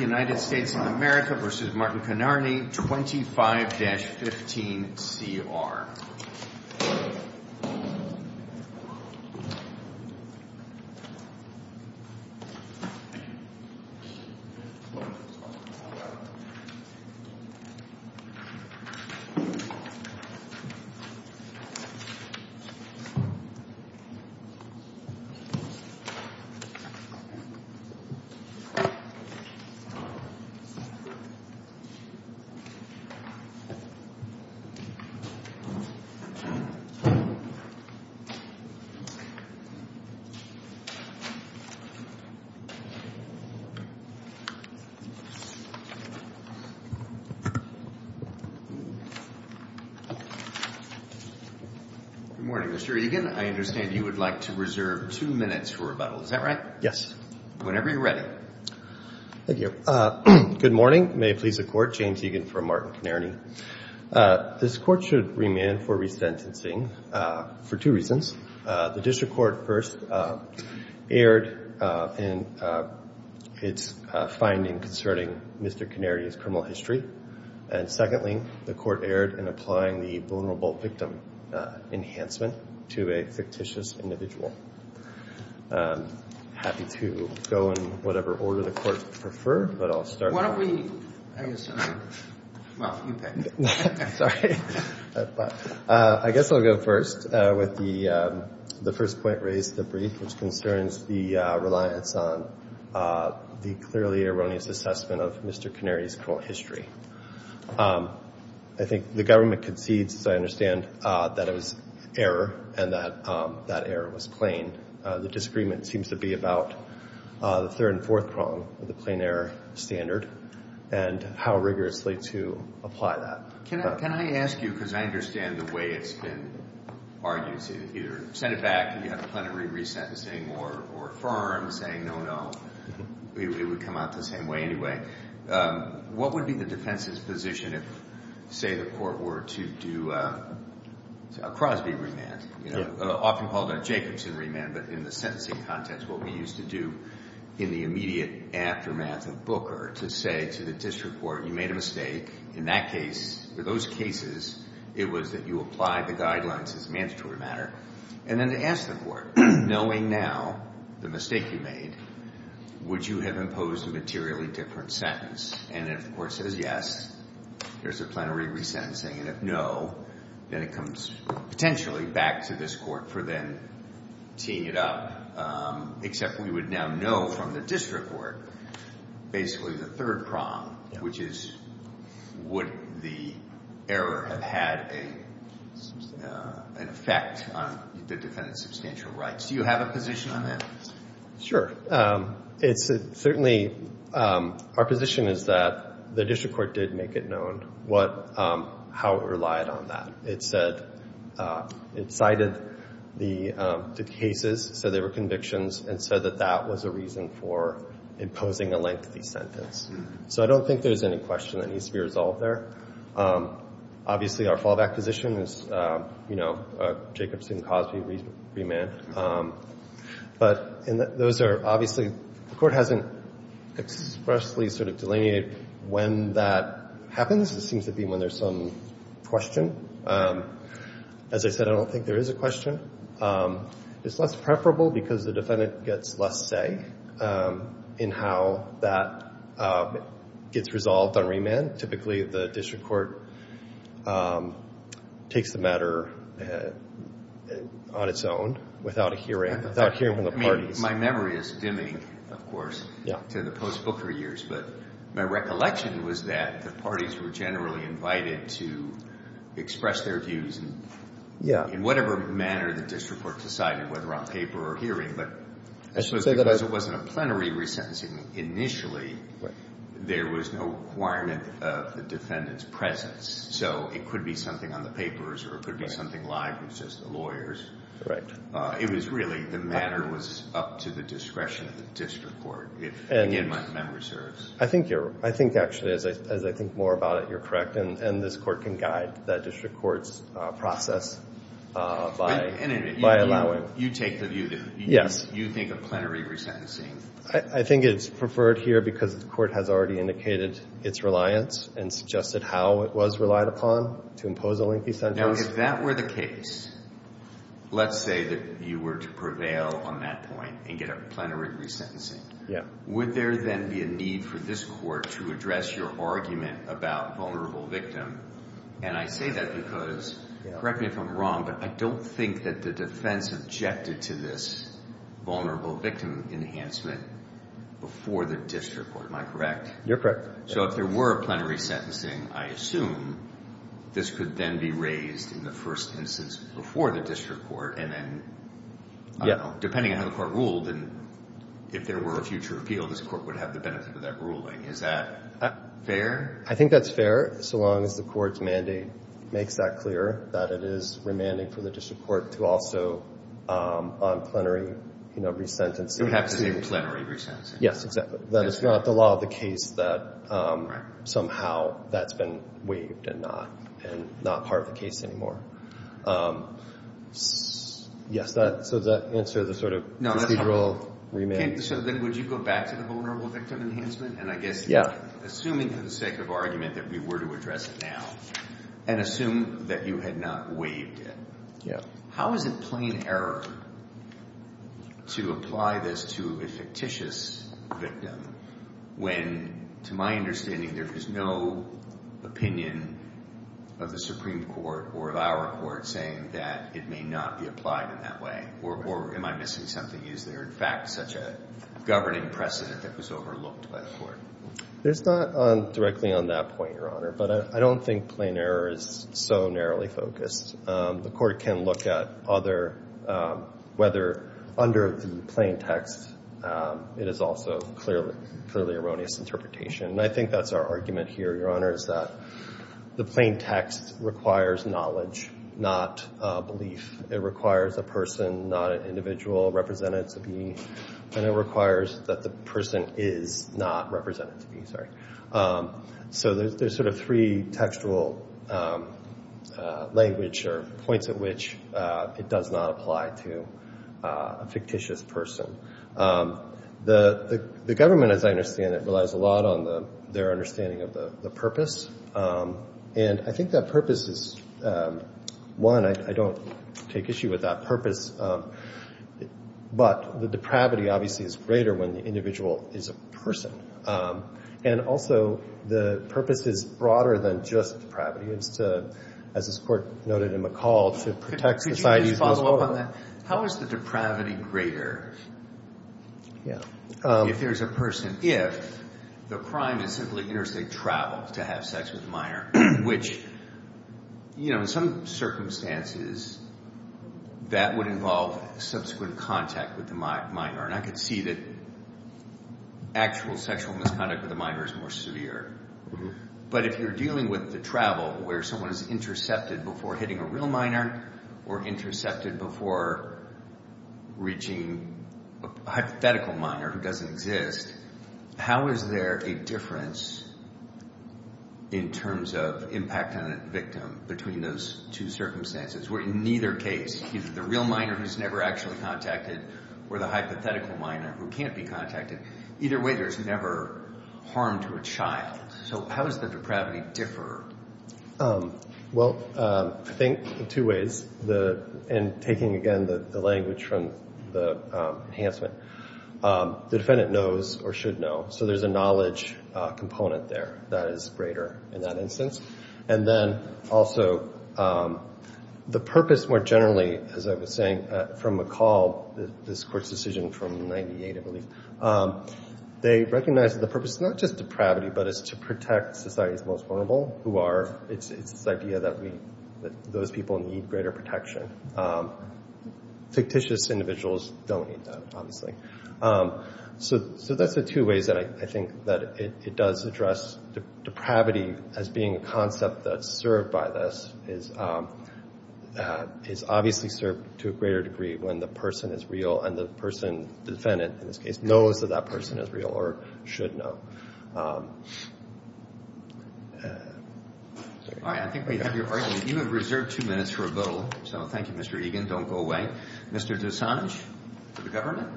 United States of America v. Martin Connearney, 25-15CR. Good morning, Mr. Egan. I understand you would like to reserve two minutes for rebuttal. Is that right? Yes. Whenever you're ready. Thank you. Good morning. May it please the Court. James Egan from Martin Connearney. This Court should remand for resentencing for two reasons. The District Court first erred in its finding concerning Mr. Connearney's criminal history. And secondly, the Court erred in applying the vulnerable victim enhancement to a fictitious individual. I'm happy to go in whatever order the Court would prefer, but I'll start off. Why don't we, I guess, well, you pick. Sorry. I guess I'll go first with the first point raised, the brief, which concerns the reliance on the clearly erroneous assessment of Mr. Connearney's criminal history. I think the government concedes, as I understand, that it was error and that that error was plain. The disagreement seems to be about the third and fourth prong of the plain error standard and how rigorously to apply that. Can I ask you, because I understand the way it's been argued, either send it back and you have a plenary resentencing or affirm, saying no, no. It would come out the same way anyway. What would be the defense's position if, say, the Court were to do a Crosby remand, often called a Jacobson remand, but in the sentencing context what we used to do in the immediate aftermath of Booker to say to the District Court, you made a mistake in that case. For those cases, it was that you apply the guidelines as mandatory matter. And then to ask the Court, knowing now the mistake you made, would you have imposed a materially different sentence? And if the Court says yes, there's a plenary resentencing. And if no, then it comes potentially back to this Court for then teeing it up, except we would now know from the District Court basically the third prong, which is would the error have had an effect on the defendant's substantial rights? Do you have a position on that? Sure. It's certainly, our position is that the District Court did make it known what, how it relied on that. It said, it cited the cases, said they were convictions, and said that that was a reason for imposing a lengthy sentence. So I don't think there's any question that needs to be resolved there. Obviously, our fallback position is, you know, Jacobson-Cosby remand. But those are obviously, the Court hasn't expressly sort of delineated when that happens. It seems to be when there's some question. As I said, I don't think there is a question. It's less preferable because the defendant gets less say in how that gets resolved on remand. Typically, the District Court takes the matter on its own without hearing from the parties. My memory is dimming, of course, to the post-Booker years. But my recollection was that the parties were generally invited to express their views. Yeah. In whatever manner the District Court decided, whether on paper or hearing, but I suppose because it wasn't a plenary resentencing initially, there was no requirement of the defendant's presence. So it could be something on the papers or it could be something live, which is the lawyers. It was really, the matter was up to the discretion of the District Court, if, again, my memory serves. I think you're, I think actually, as I think more about it, you're correct. And this Court can guide that District Court's process by allowing. You take the view that you think of plenary resentencing. I think it's preferred here because the Court has already indicated its reliance and suggested how it was relied upon to impose a lengthy sentence. Now, if that were the case, let's say that you were to prevail on that point and get a plenary resentencing, would there then be a need for this Court to address your argument about vulnerable victim? And I say that because, correct me if I'm wrong, but I don't think that the defense objected to this vulnerable victim enhancement before the District Court. Am I correct? You're correct. So if there were a plenary sentencing, I assume this could then be raised in the first instance before the District Court and then, I don't know, depending on how the Court ruled and if there were a future appeal, this Court would have the benefit of that ruling. Is that fair? I think that's fair so long as the Court's mandate makes that clear, that it is remanding for the District Court to also on plenary, you know, resentencing. You have to say plenary resentencing. Yes, exactly. That it's not the law of the case that somehow that's been waived and not part of the case anymore. Yes, so does that answer the sort of procedural remand? So then would you go back to the vulnerable victim enhancement? And I guess assuming for the sake of argument that we were to address it now and assume that you had not waived it, how is it plain error to apply this to a fictitious victim when, to my understanding, there is no opinion of the Supreme Court or of our Court saying that it may not be applied in that way? Or am I missing something? Is there, in fact, such a governing precedent that was overlooked by the Court? There's not directly on that point, Your Honor, but I don't think plain error is so narrowly focused. The Court can look at whether under the plain text it is also clearly erroneous interpretation. And I think that's our argument here, Your Honor, is that the plain text requires knowledge, not belief. It requires a person, not an individual, represented to be. And it requires that the person is not represented to be, sorry. So there's sort of three textual language or points at which it does not apply to a fictitious person. The government, as I understand it, relies a lot on their understanding of the purpose. And I think that purpose is one. I don't take issue with that purpose. But the depravity obviously is greater when the individual is a person. And also the purpose is broader than just depravity. It's to, as this Court noted in McCall, to protect society as a whole. Could you just follow up on that? How is the depravity greater if there's a person, if the crime is simply interstate travel to have sex with a minor? Which, you know, in some circumstances, that would involve subsequent contact with the minor. And I could see that actual sexual misconduct with a minor is more severe. But if you're dealing with the travel where someone is intercepted before hitting a real minor or intercepted before reaching a hypothetical minor who doesn't exist, how is there a difference in terms of impact on a victim between those two circumstances? Where in neither case, either the real minor who's never actually contacted or the hypothetical minor who can't be contacted, either way there's never harm to a child. So how does the depravity differ? Well, I think in two ways. And taking, again, the language from the enhancement, the defendant knows or should know. So there's a knowledge component there that is greater in that instance. And then also the purpose more generally, as I was saying, from McCall, this court's decision from 98, I believe, they recognize that the purpose is not just depravity, but it's to protect society's most vulnerable who are. It's this idea that those people need greater protection. Fictitious individuals don't need that, obviously. So that's the two ways that I think that it does address depravity as being a concept that's served by this is obviously served to a greater degree when the person is real and the person, the defendant in this case, knows that that person is real or should know. All right. I think we have your argument. You have reserved two minutes for a vote. So thank you, Mr. Egan. Don't go away. Mr. Dessange for the government.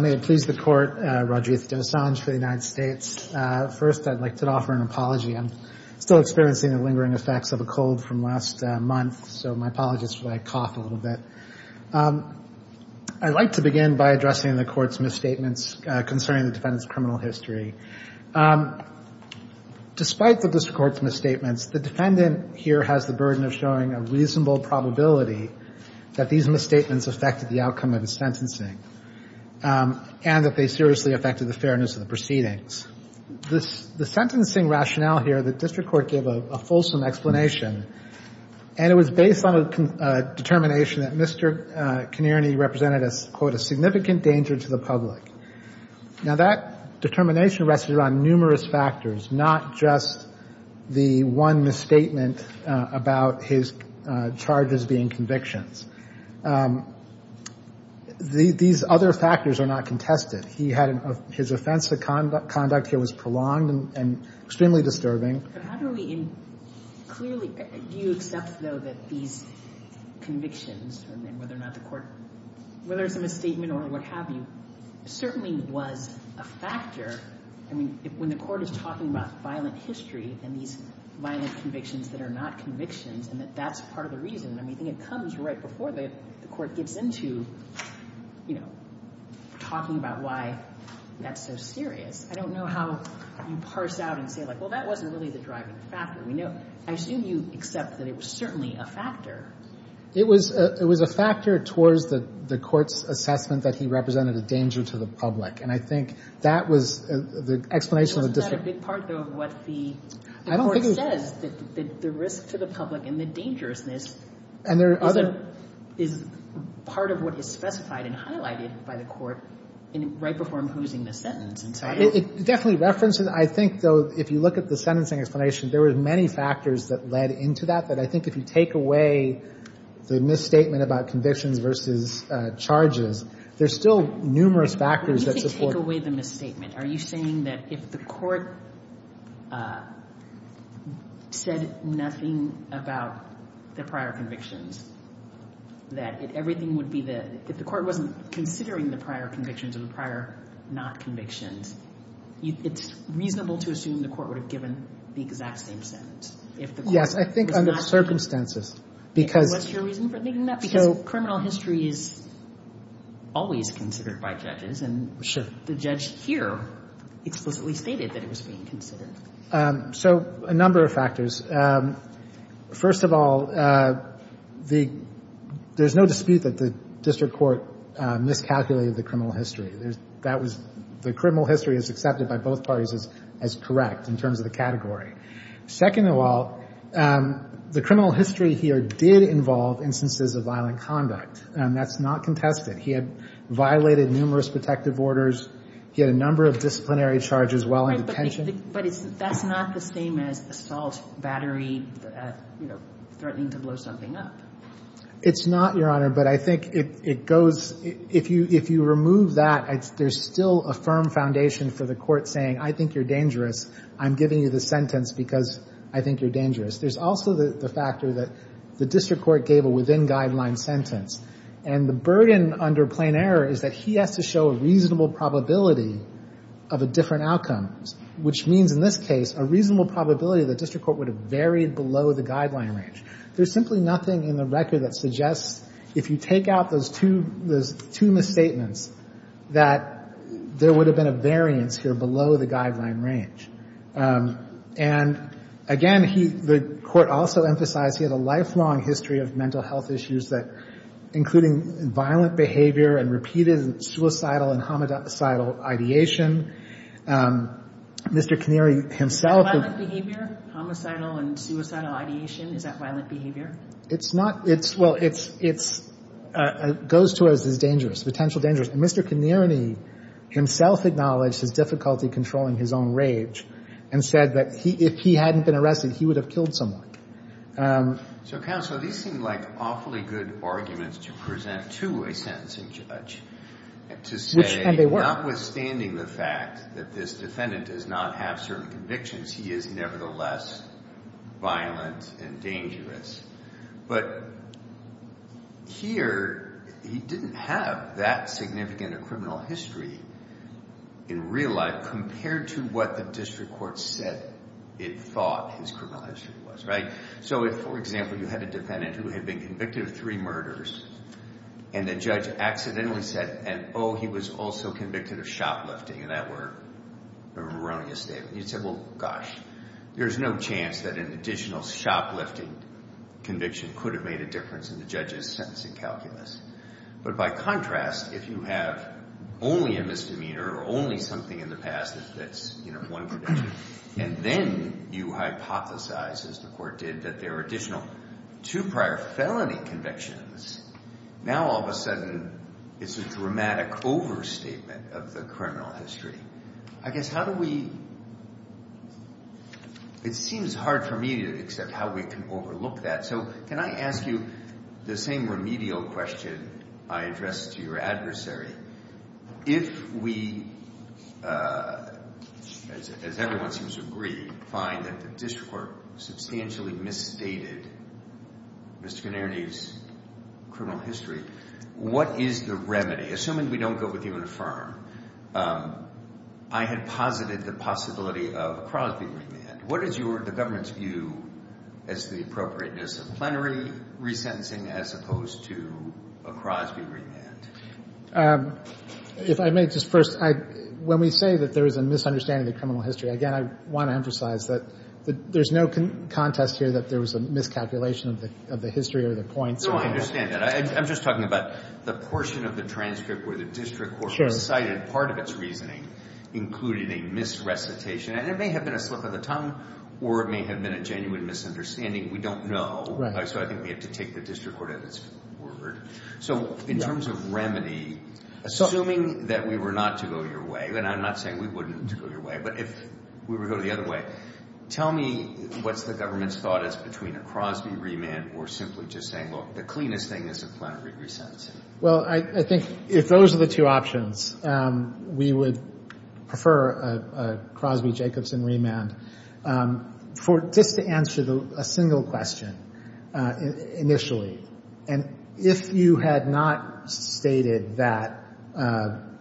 May it please the Court, Rajiv Dessange for the United States. First, I'd like to offer an apology. I'm still experiencing the lingering effects of a cold from last month, so my apologies if I cough a little bit. I'd like to begin by addressing the Court's misstatements concerning the defendant's criminal history. Despite the district court's misstatements, the defendant here has the burden of showing a reasonable probability that these misstatements affected the outcome of his sentencing and that they seriously affected the fairness of the proceedings. The sentencing rationale here, the district court gave a fulsome explanation, and it was based on a determination that Mr. Connery represented as, quote, a significant danger to the public. Now, that determination rested on numerous factors, not just the one misstatement about his charges being convictions. These other factors are not contested. His offense to conduct here was prolonged and extremely disturbing. But how do we, clearly, do you accept, though, that these convictions, and whether or not the Court, whether it's a misstatement or what have you, certainly was a factor. I mean, when the Court is talking about violent history and these violent convictions that are not convictions and that that's part of the reason, I mean, I think it comes right before the Court gets into, you know, talking about why that's so serious. I don't know how you parse out and say, like, well, that wasn't really the driving factor. I assume you accept that it was certainly a factor. It was a factor towards the Court's assessment that he represented a danger to the public. And I think that was the explanation of the district court. Isn't that a big part, though, of what the Court says, that the risk to the public and the dangerousness is part of what is specified and highlighted by the Court right before imposing the sentence? It definitely references. I think, though, if you look at the sentencing explanation, there were many factors that led into that. But I think if you take away the misstatement about convictions versus charges, there's still numerous factors that support. You didn't take away the misstatement. Are you saying that if the Court said nothing about the prior convictions, that everything would be the — if the Court wasn't considering the prior convictions or the prior not convictions, it's reasonable to assume the Court would have given the exact same sentence if the Court was not — Yes, I think under circumstances, because — And what's your reason for thinking that? Because criminal history is always considered by judges. Sure. And the judge here explicitly stated that it was being considered. So a number of factors. First of all, the — there's no dispute that the district court miscalculated the criminal history. That was — the criminal history is accepted by both parties as correct in terms of the category. Second of all, the criminal history here did involve instances of violent conduct, and that's not contested. He had violated numerous protective orders. He had a number of disciplinary charges while in detention. But that's not the same as assault, battery, you know, threatening to blow something up. It's not, Your Honor, but I think it goes — if you remove that, there's still a firm foundation for the Court saying, I think you're dangerous, I'm giving you the sentence because I think you're dangerous. There's also the factor that the district court gave a within-guideline sentence, and the burden under plain error is that he has to show a reasonable probability of a different outcome, which means in this case a reasonable probability the district court would have varied below the guideline range. There's simply nothing in the record that suggests if you take out those two — those two misstatements that there would have been a variance here below the guideline range. And again, he — the Court also emphasized he had a lifelong history of mental health issues that — including violent behavior and repeated suicidal and homicidal ideation. Mr. Connery himself — Violent behavior? Homicidal and suicidal ideation? Is that violent behavior? It's not. It's — well, it's — it goes to us as dangerous, potential dangerous. And Mr. Connery himself acknowledged his difficulty controlling his own rage and said that if he hadn't been arrested, he would have killed someone. So, Counsel, these seem like awfully good arguments to present to a sentencing judge to say — Which can they work? — notwithstanding the fact that this defendant does not have certain convictions, he is nevertheless violent and dangerous. But here he didn't have that significant a criminal history in real life compared to what the district court said it thought his criminal history was, right? So if, for example, you had a defendant who had been convicted of three murders and the judge accidentally said, oh, he was also convicted of shoplifting, and that were erroneous statements, you'd say, well, gosh, there's no chance that an additional shoplifting conviction could have made a difference in the judge's sentencing calculus. But by contrast, if you have only a misdemeanor or only something in the past that's, you know, one conviction, and then you hypothesize, as the court did, that there were additional two prior felony convictions, now all of a sudden it's a dramatic overstatement of the criminal history. I guess how do we — it seems hard for me to accept how we can overlook that. So can I ask you the same remedial question I addressed to your adversary? If we, as everyone seems to agree, find that the district court substantially misstated Mr. Gennarine's criminal history, what is the remedy? Assuming we don't go with uniform, I had posited the possibility of a Crosby remand. What is the government's view as to the appropriateness of plenary resentencing as opposed to a Crosby remand? If I may, just first, when we say that there is a misunderstanding of the criminal history, again, I want to emphasize that there's no contest here that there was a miscalculation of the history or the points. No, I understand that. I'm just talking about the portion of the transcript where the district court cited part of its reasoning, including a misrecitation. And it may have been a slip of the tongue, or it may have been a genuine misunderstanding. We don't know. Right. So I think we have to take the district court at its word. So in terms of remedy, assuming that we were not to go your way, and I'm not saying we wouldn't go your way, but if we were to go the other way, tell me what's the government's thought as between a Crosby remand or simply just saying, look, the cleanest thing is a plenary resentencing. Well, I think if those are the two options, we would prefer a Crosby-Jacobson remand. Just to answer a single question initially, and if you had not stated that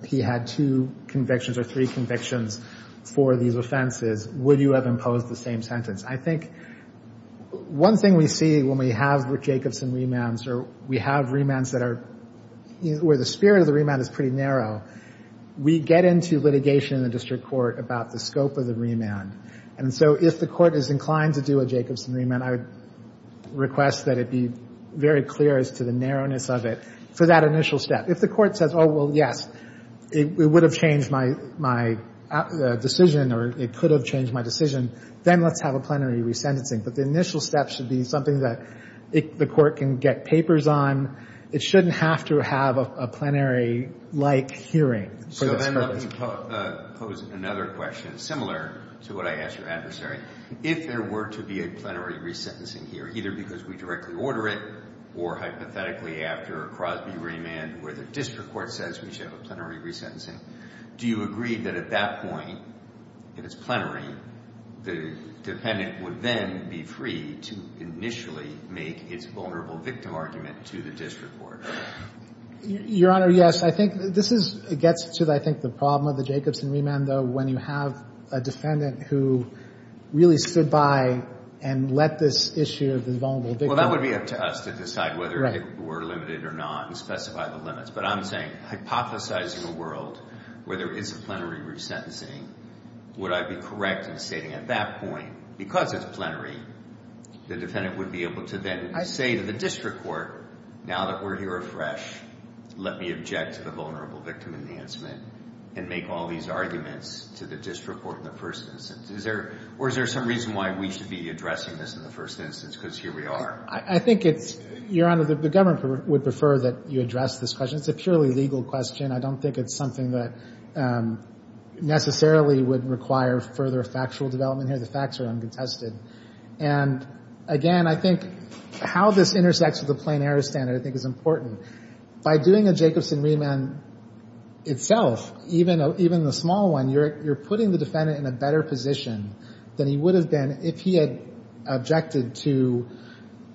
he had two convictions or three convictions for these offenses, would you have imposed the same sentence? I think one thing we see when we have Jacobson remands, or we have remands that are where the spirit of the remand is pretty narrow, we get into litigation in the district court about the scope of the remand. And so if the court is inclined to do a Jacobson remand, I would request that it be very clear as to the narrowness of it for that initial step. If the court says, oh, well, yes, it would have changed my decision, or it could have changed my decision, then let's have a plenary resentencing. But the initial step should be something that the court can get papers on. It shouldn't have to have a plenary-like hearing for this purpose. Let me pose another question, similar to what I asked your adversary. If there were to be a plenary resentencing here, either because we directly order it or hypothetically after a Crosby remand where the district court says we should have a plenary resentencing, do you agree that at that point, if it's plenary, the dependent would then be free to initially make its vulnerable victim argument to the district court? Your Honor, yes. I think this gets to, I think, the problem of the Jacobson remand, though, when you have a defendant who really stood by and let this issue of the vulnerable victim argument. Well, that would be up to us to decide whether it were limited or not and specify the limits. But I'm saying hypothesizing a world where there is a plenary resentencing, would I be correct in stating at that point, because it's plenary, the defendant would be able to then say to the district court, now that we're here afresh, let me object to the vulnerable victim enhancement and make all these arguments to the district court in the first instance? Or is there some reason why we should be addressing this in the first instance because here we are? I think it's, Your Honor, the government would prefer that you address this question. It's a purely legal question. I don't think it's something that necessarily would require further factual development here. The facts are uncontested. And, again, I think how this intersects with the plenary standard, I think, is important. By doing a Jacobson remand itself, even the small one, you're putting the defendant in a better position than he would have been if he had objected to,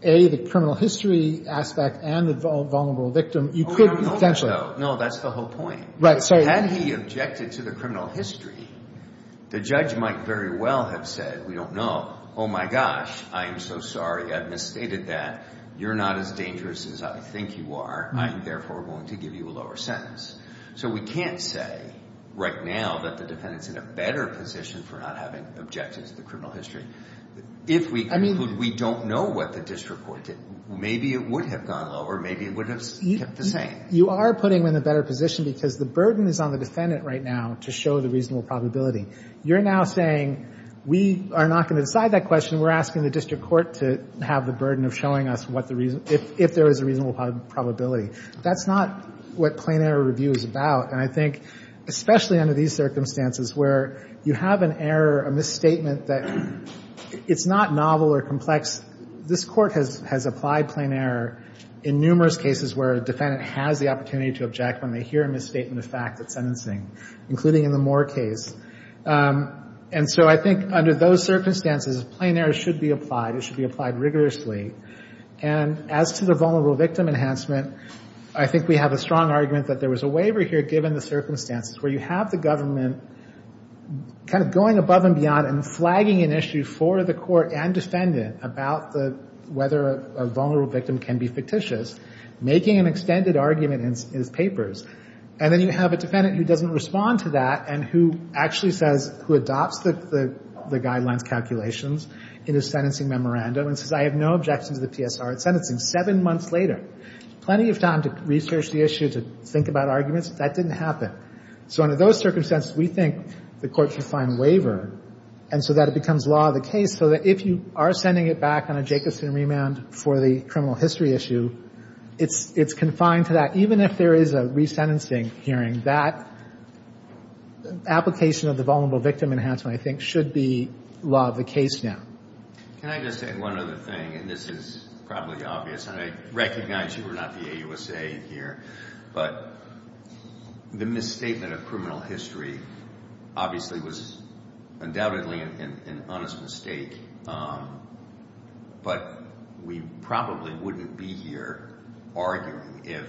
A, the criminal history aspect and the vulnerable victim. You could potentially – No, that's the whole point. Right. Had he objected to the criminal history, the judge might very well have said, we don't know. Oh, my gosh. I am so sorry. I've misstated that. You're not as dangerous as I think you are. I am, therefore, going to give you a lower sentence. So we can't say right now that the defendant's in a better position for not having objected to the criminal history. If we conclude we don't know what the district court did, maybe it would have gone lower. Maybe it would have kept the same. You are putting him in a better position because the burden is on the defendant right now to show the reasonable probability. You're now saying we are not going to decide that question. We're asking the district court to have the burden of showing us what the – if there is a reasonable probability. That's not what plain error review is about. And I think especially under these circumstances where you have an error, a misstatement that – it's not novel or complex. This Court has applied plain error in numerous cases where a defendant has the opportunity to object when they hear a misstatement of fact at sentencing, including in the Moore case. And so I think under those circumstances, plain error should be applied. It should be applied rigorously. And as to the vulnerable victim enhancement, I think we have a strong argument that there was a waiver here given the circumstances where you have the government kind of going above and beyond and flagging an issue for the court and defendant about the – whether a vulnerable victim can be fictitious, making an extended argument in its papers. And then you have a defendant who doesn't respond to that and who actually says – who adopts the guidelines calculations in his sentencing memorandum and says, I have no objections to the PSR at sentencing. Seven months later, plenty of time to research the issue, to think about arguments. That didn't happen. So under those circumstances, we think the court should find a waiver and so that it becomes law of the case so that if you are sending it back on a Jacobson remand for the criminal history issue, it's confined to that, even if there is a sentencing hearing, that application of the vulnerable victim enhancement, I think, should be law of the case now. Can I just say one other thing, and this is probably obvious, and I recognize you are not the AUSA here, but the misstatement of criminal history obviously was undoubtedly an honest mistake. But we probably wouldn't be here arguing if,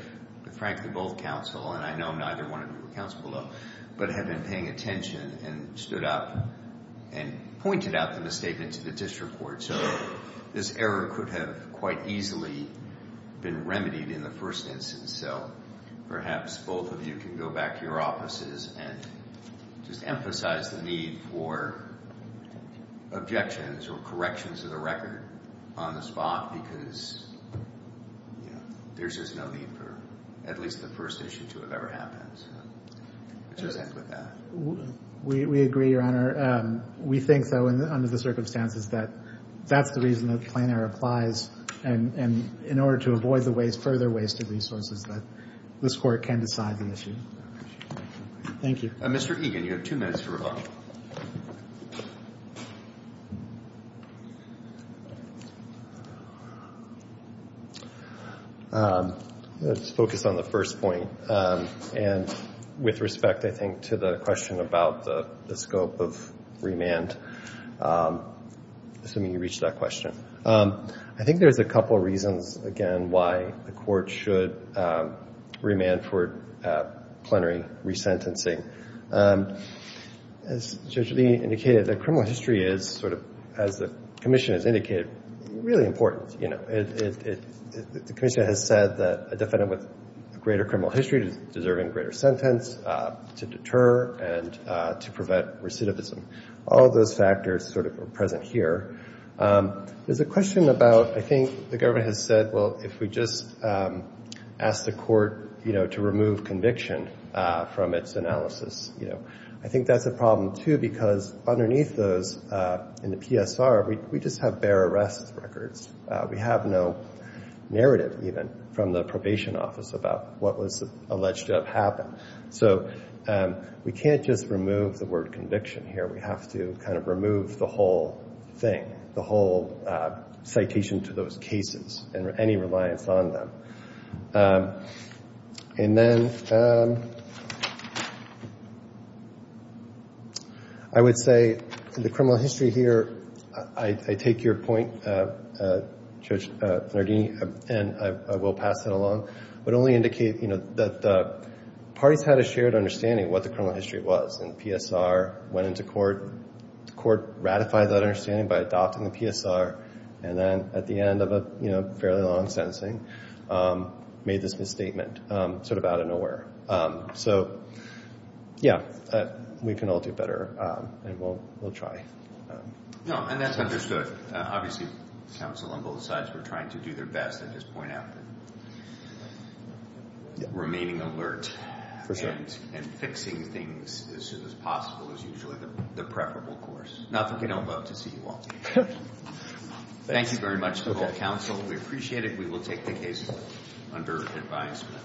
frankly, both counsel, and I know neither one of you were counsel below, but had been paying attention and stood up and pointed out the misstatement to the district court. So this error could have quite easily been remedied in the first instance. So perhaps both of you can go back to your offices and just emphasize the need for objections or corrections of the record on the spot, because there's just no need for at least the first issue to have ever happened. It just ends with that. We agree, Your Honor. We think, though, under the circumstances, that that's the reason that plain error applies, and in order to avoid the further waste of resources, that this court can decide the issue. Thank you. Mr. Egan, you have two minutes to rebuttal. Let's focus on the first point, and with respect, I think, to the question about the scope of remand, assuming you reached that question. I think there's a couple reasons, again, why the court should remand for plenary resentencing. As Judge Lee indicated, the criminal history is sort of, as the commission has indicated, really important. The commission has said that a defendant with a greater criminal history is deserving a greater sentence to deter and to prevent recidivism. All of those factors sort of are present here. There's a question about, I think the government has said, well, if we just ask the court to remove conviction from its analysis, I think that's a problem, too, because underneath those in the PSR, we just have bare arrest records. We have no narrative, even, from the probation office about what was alleged to have happened. So we can't just remove the word conviction here. We have to kind of remove the whole thing, the whole citation to those cases and any reliance on them. And then I would say the criminal history here, I take your point, Judge Farnardini, and I will pass it along, would only indicate that parties had a shared understanding of what the criminal history was, and PSR went into court. The court ratified that understanding by adopting the PSR, and then at the end of a fairly long sentencing, made this misstatement sort of out of nowhere. So, yeah, we can all do better, and we'll try. No, and that's understood. Obviously, counsel on both sides were trying to do their best and just point out that remaining alert and fixing things as soon as possible is usually the preferable course. Not that we don't love to see you all. Thank you very much to all counsel. We appreciate it. We will take the case under advisement.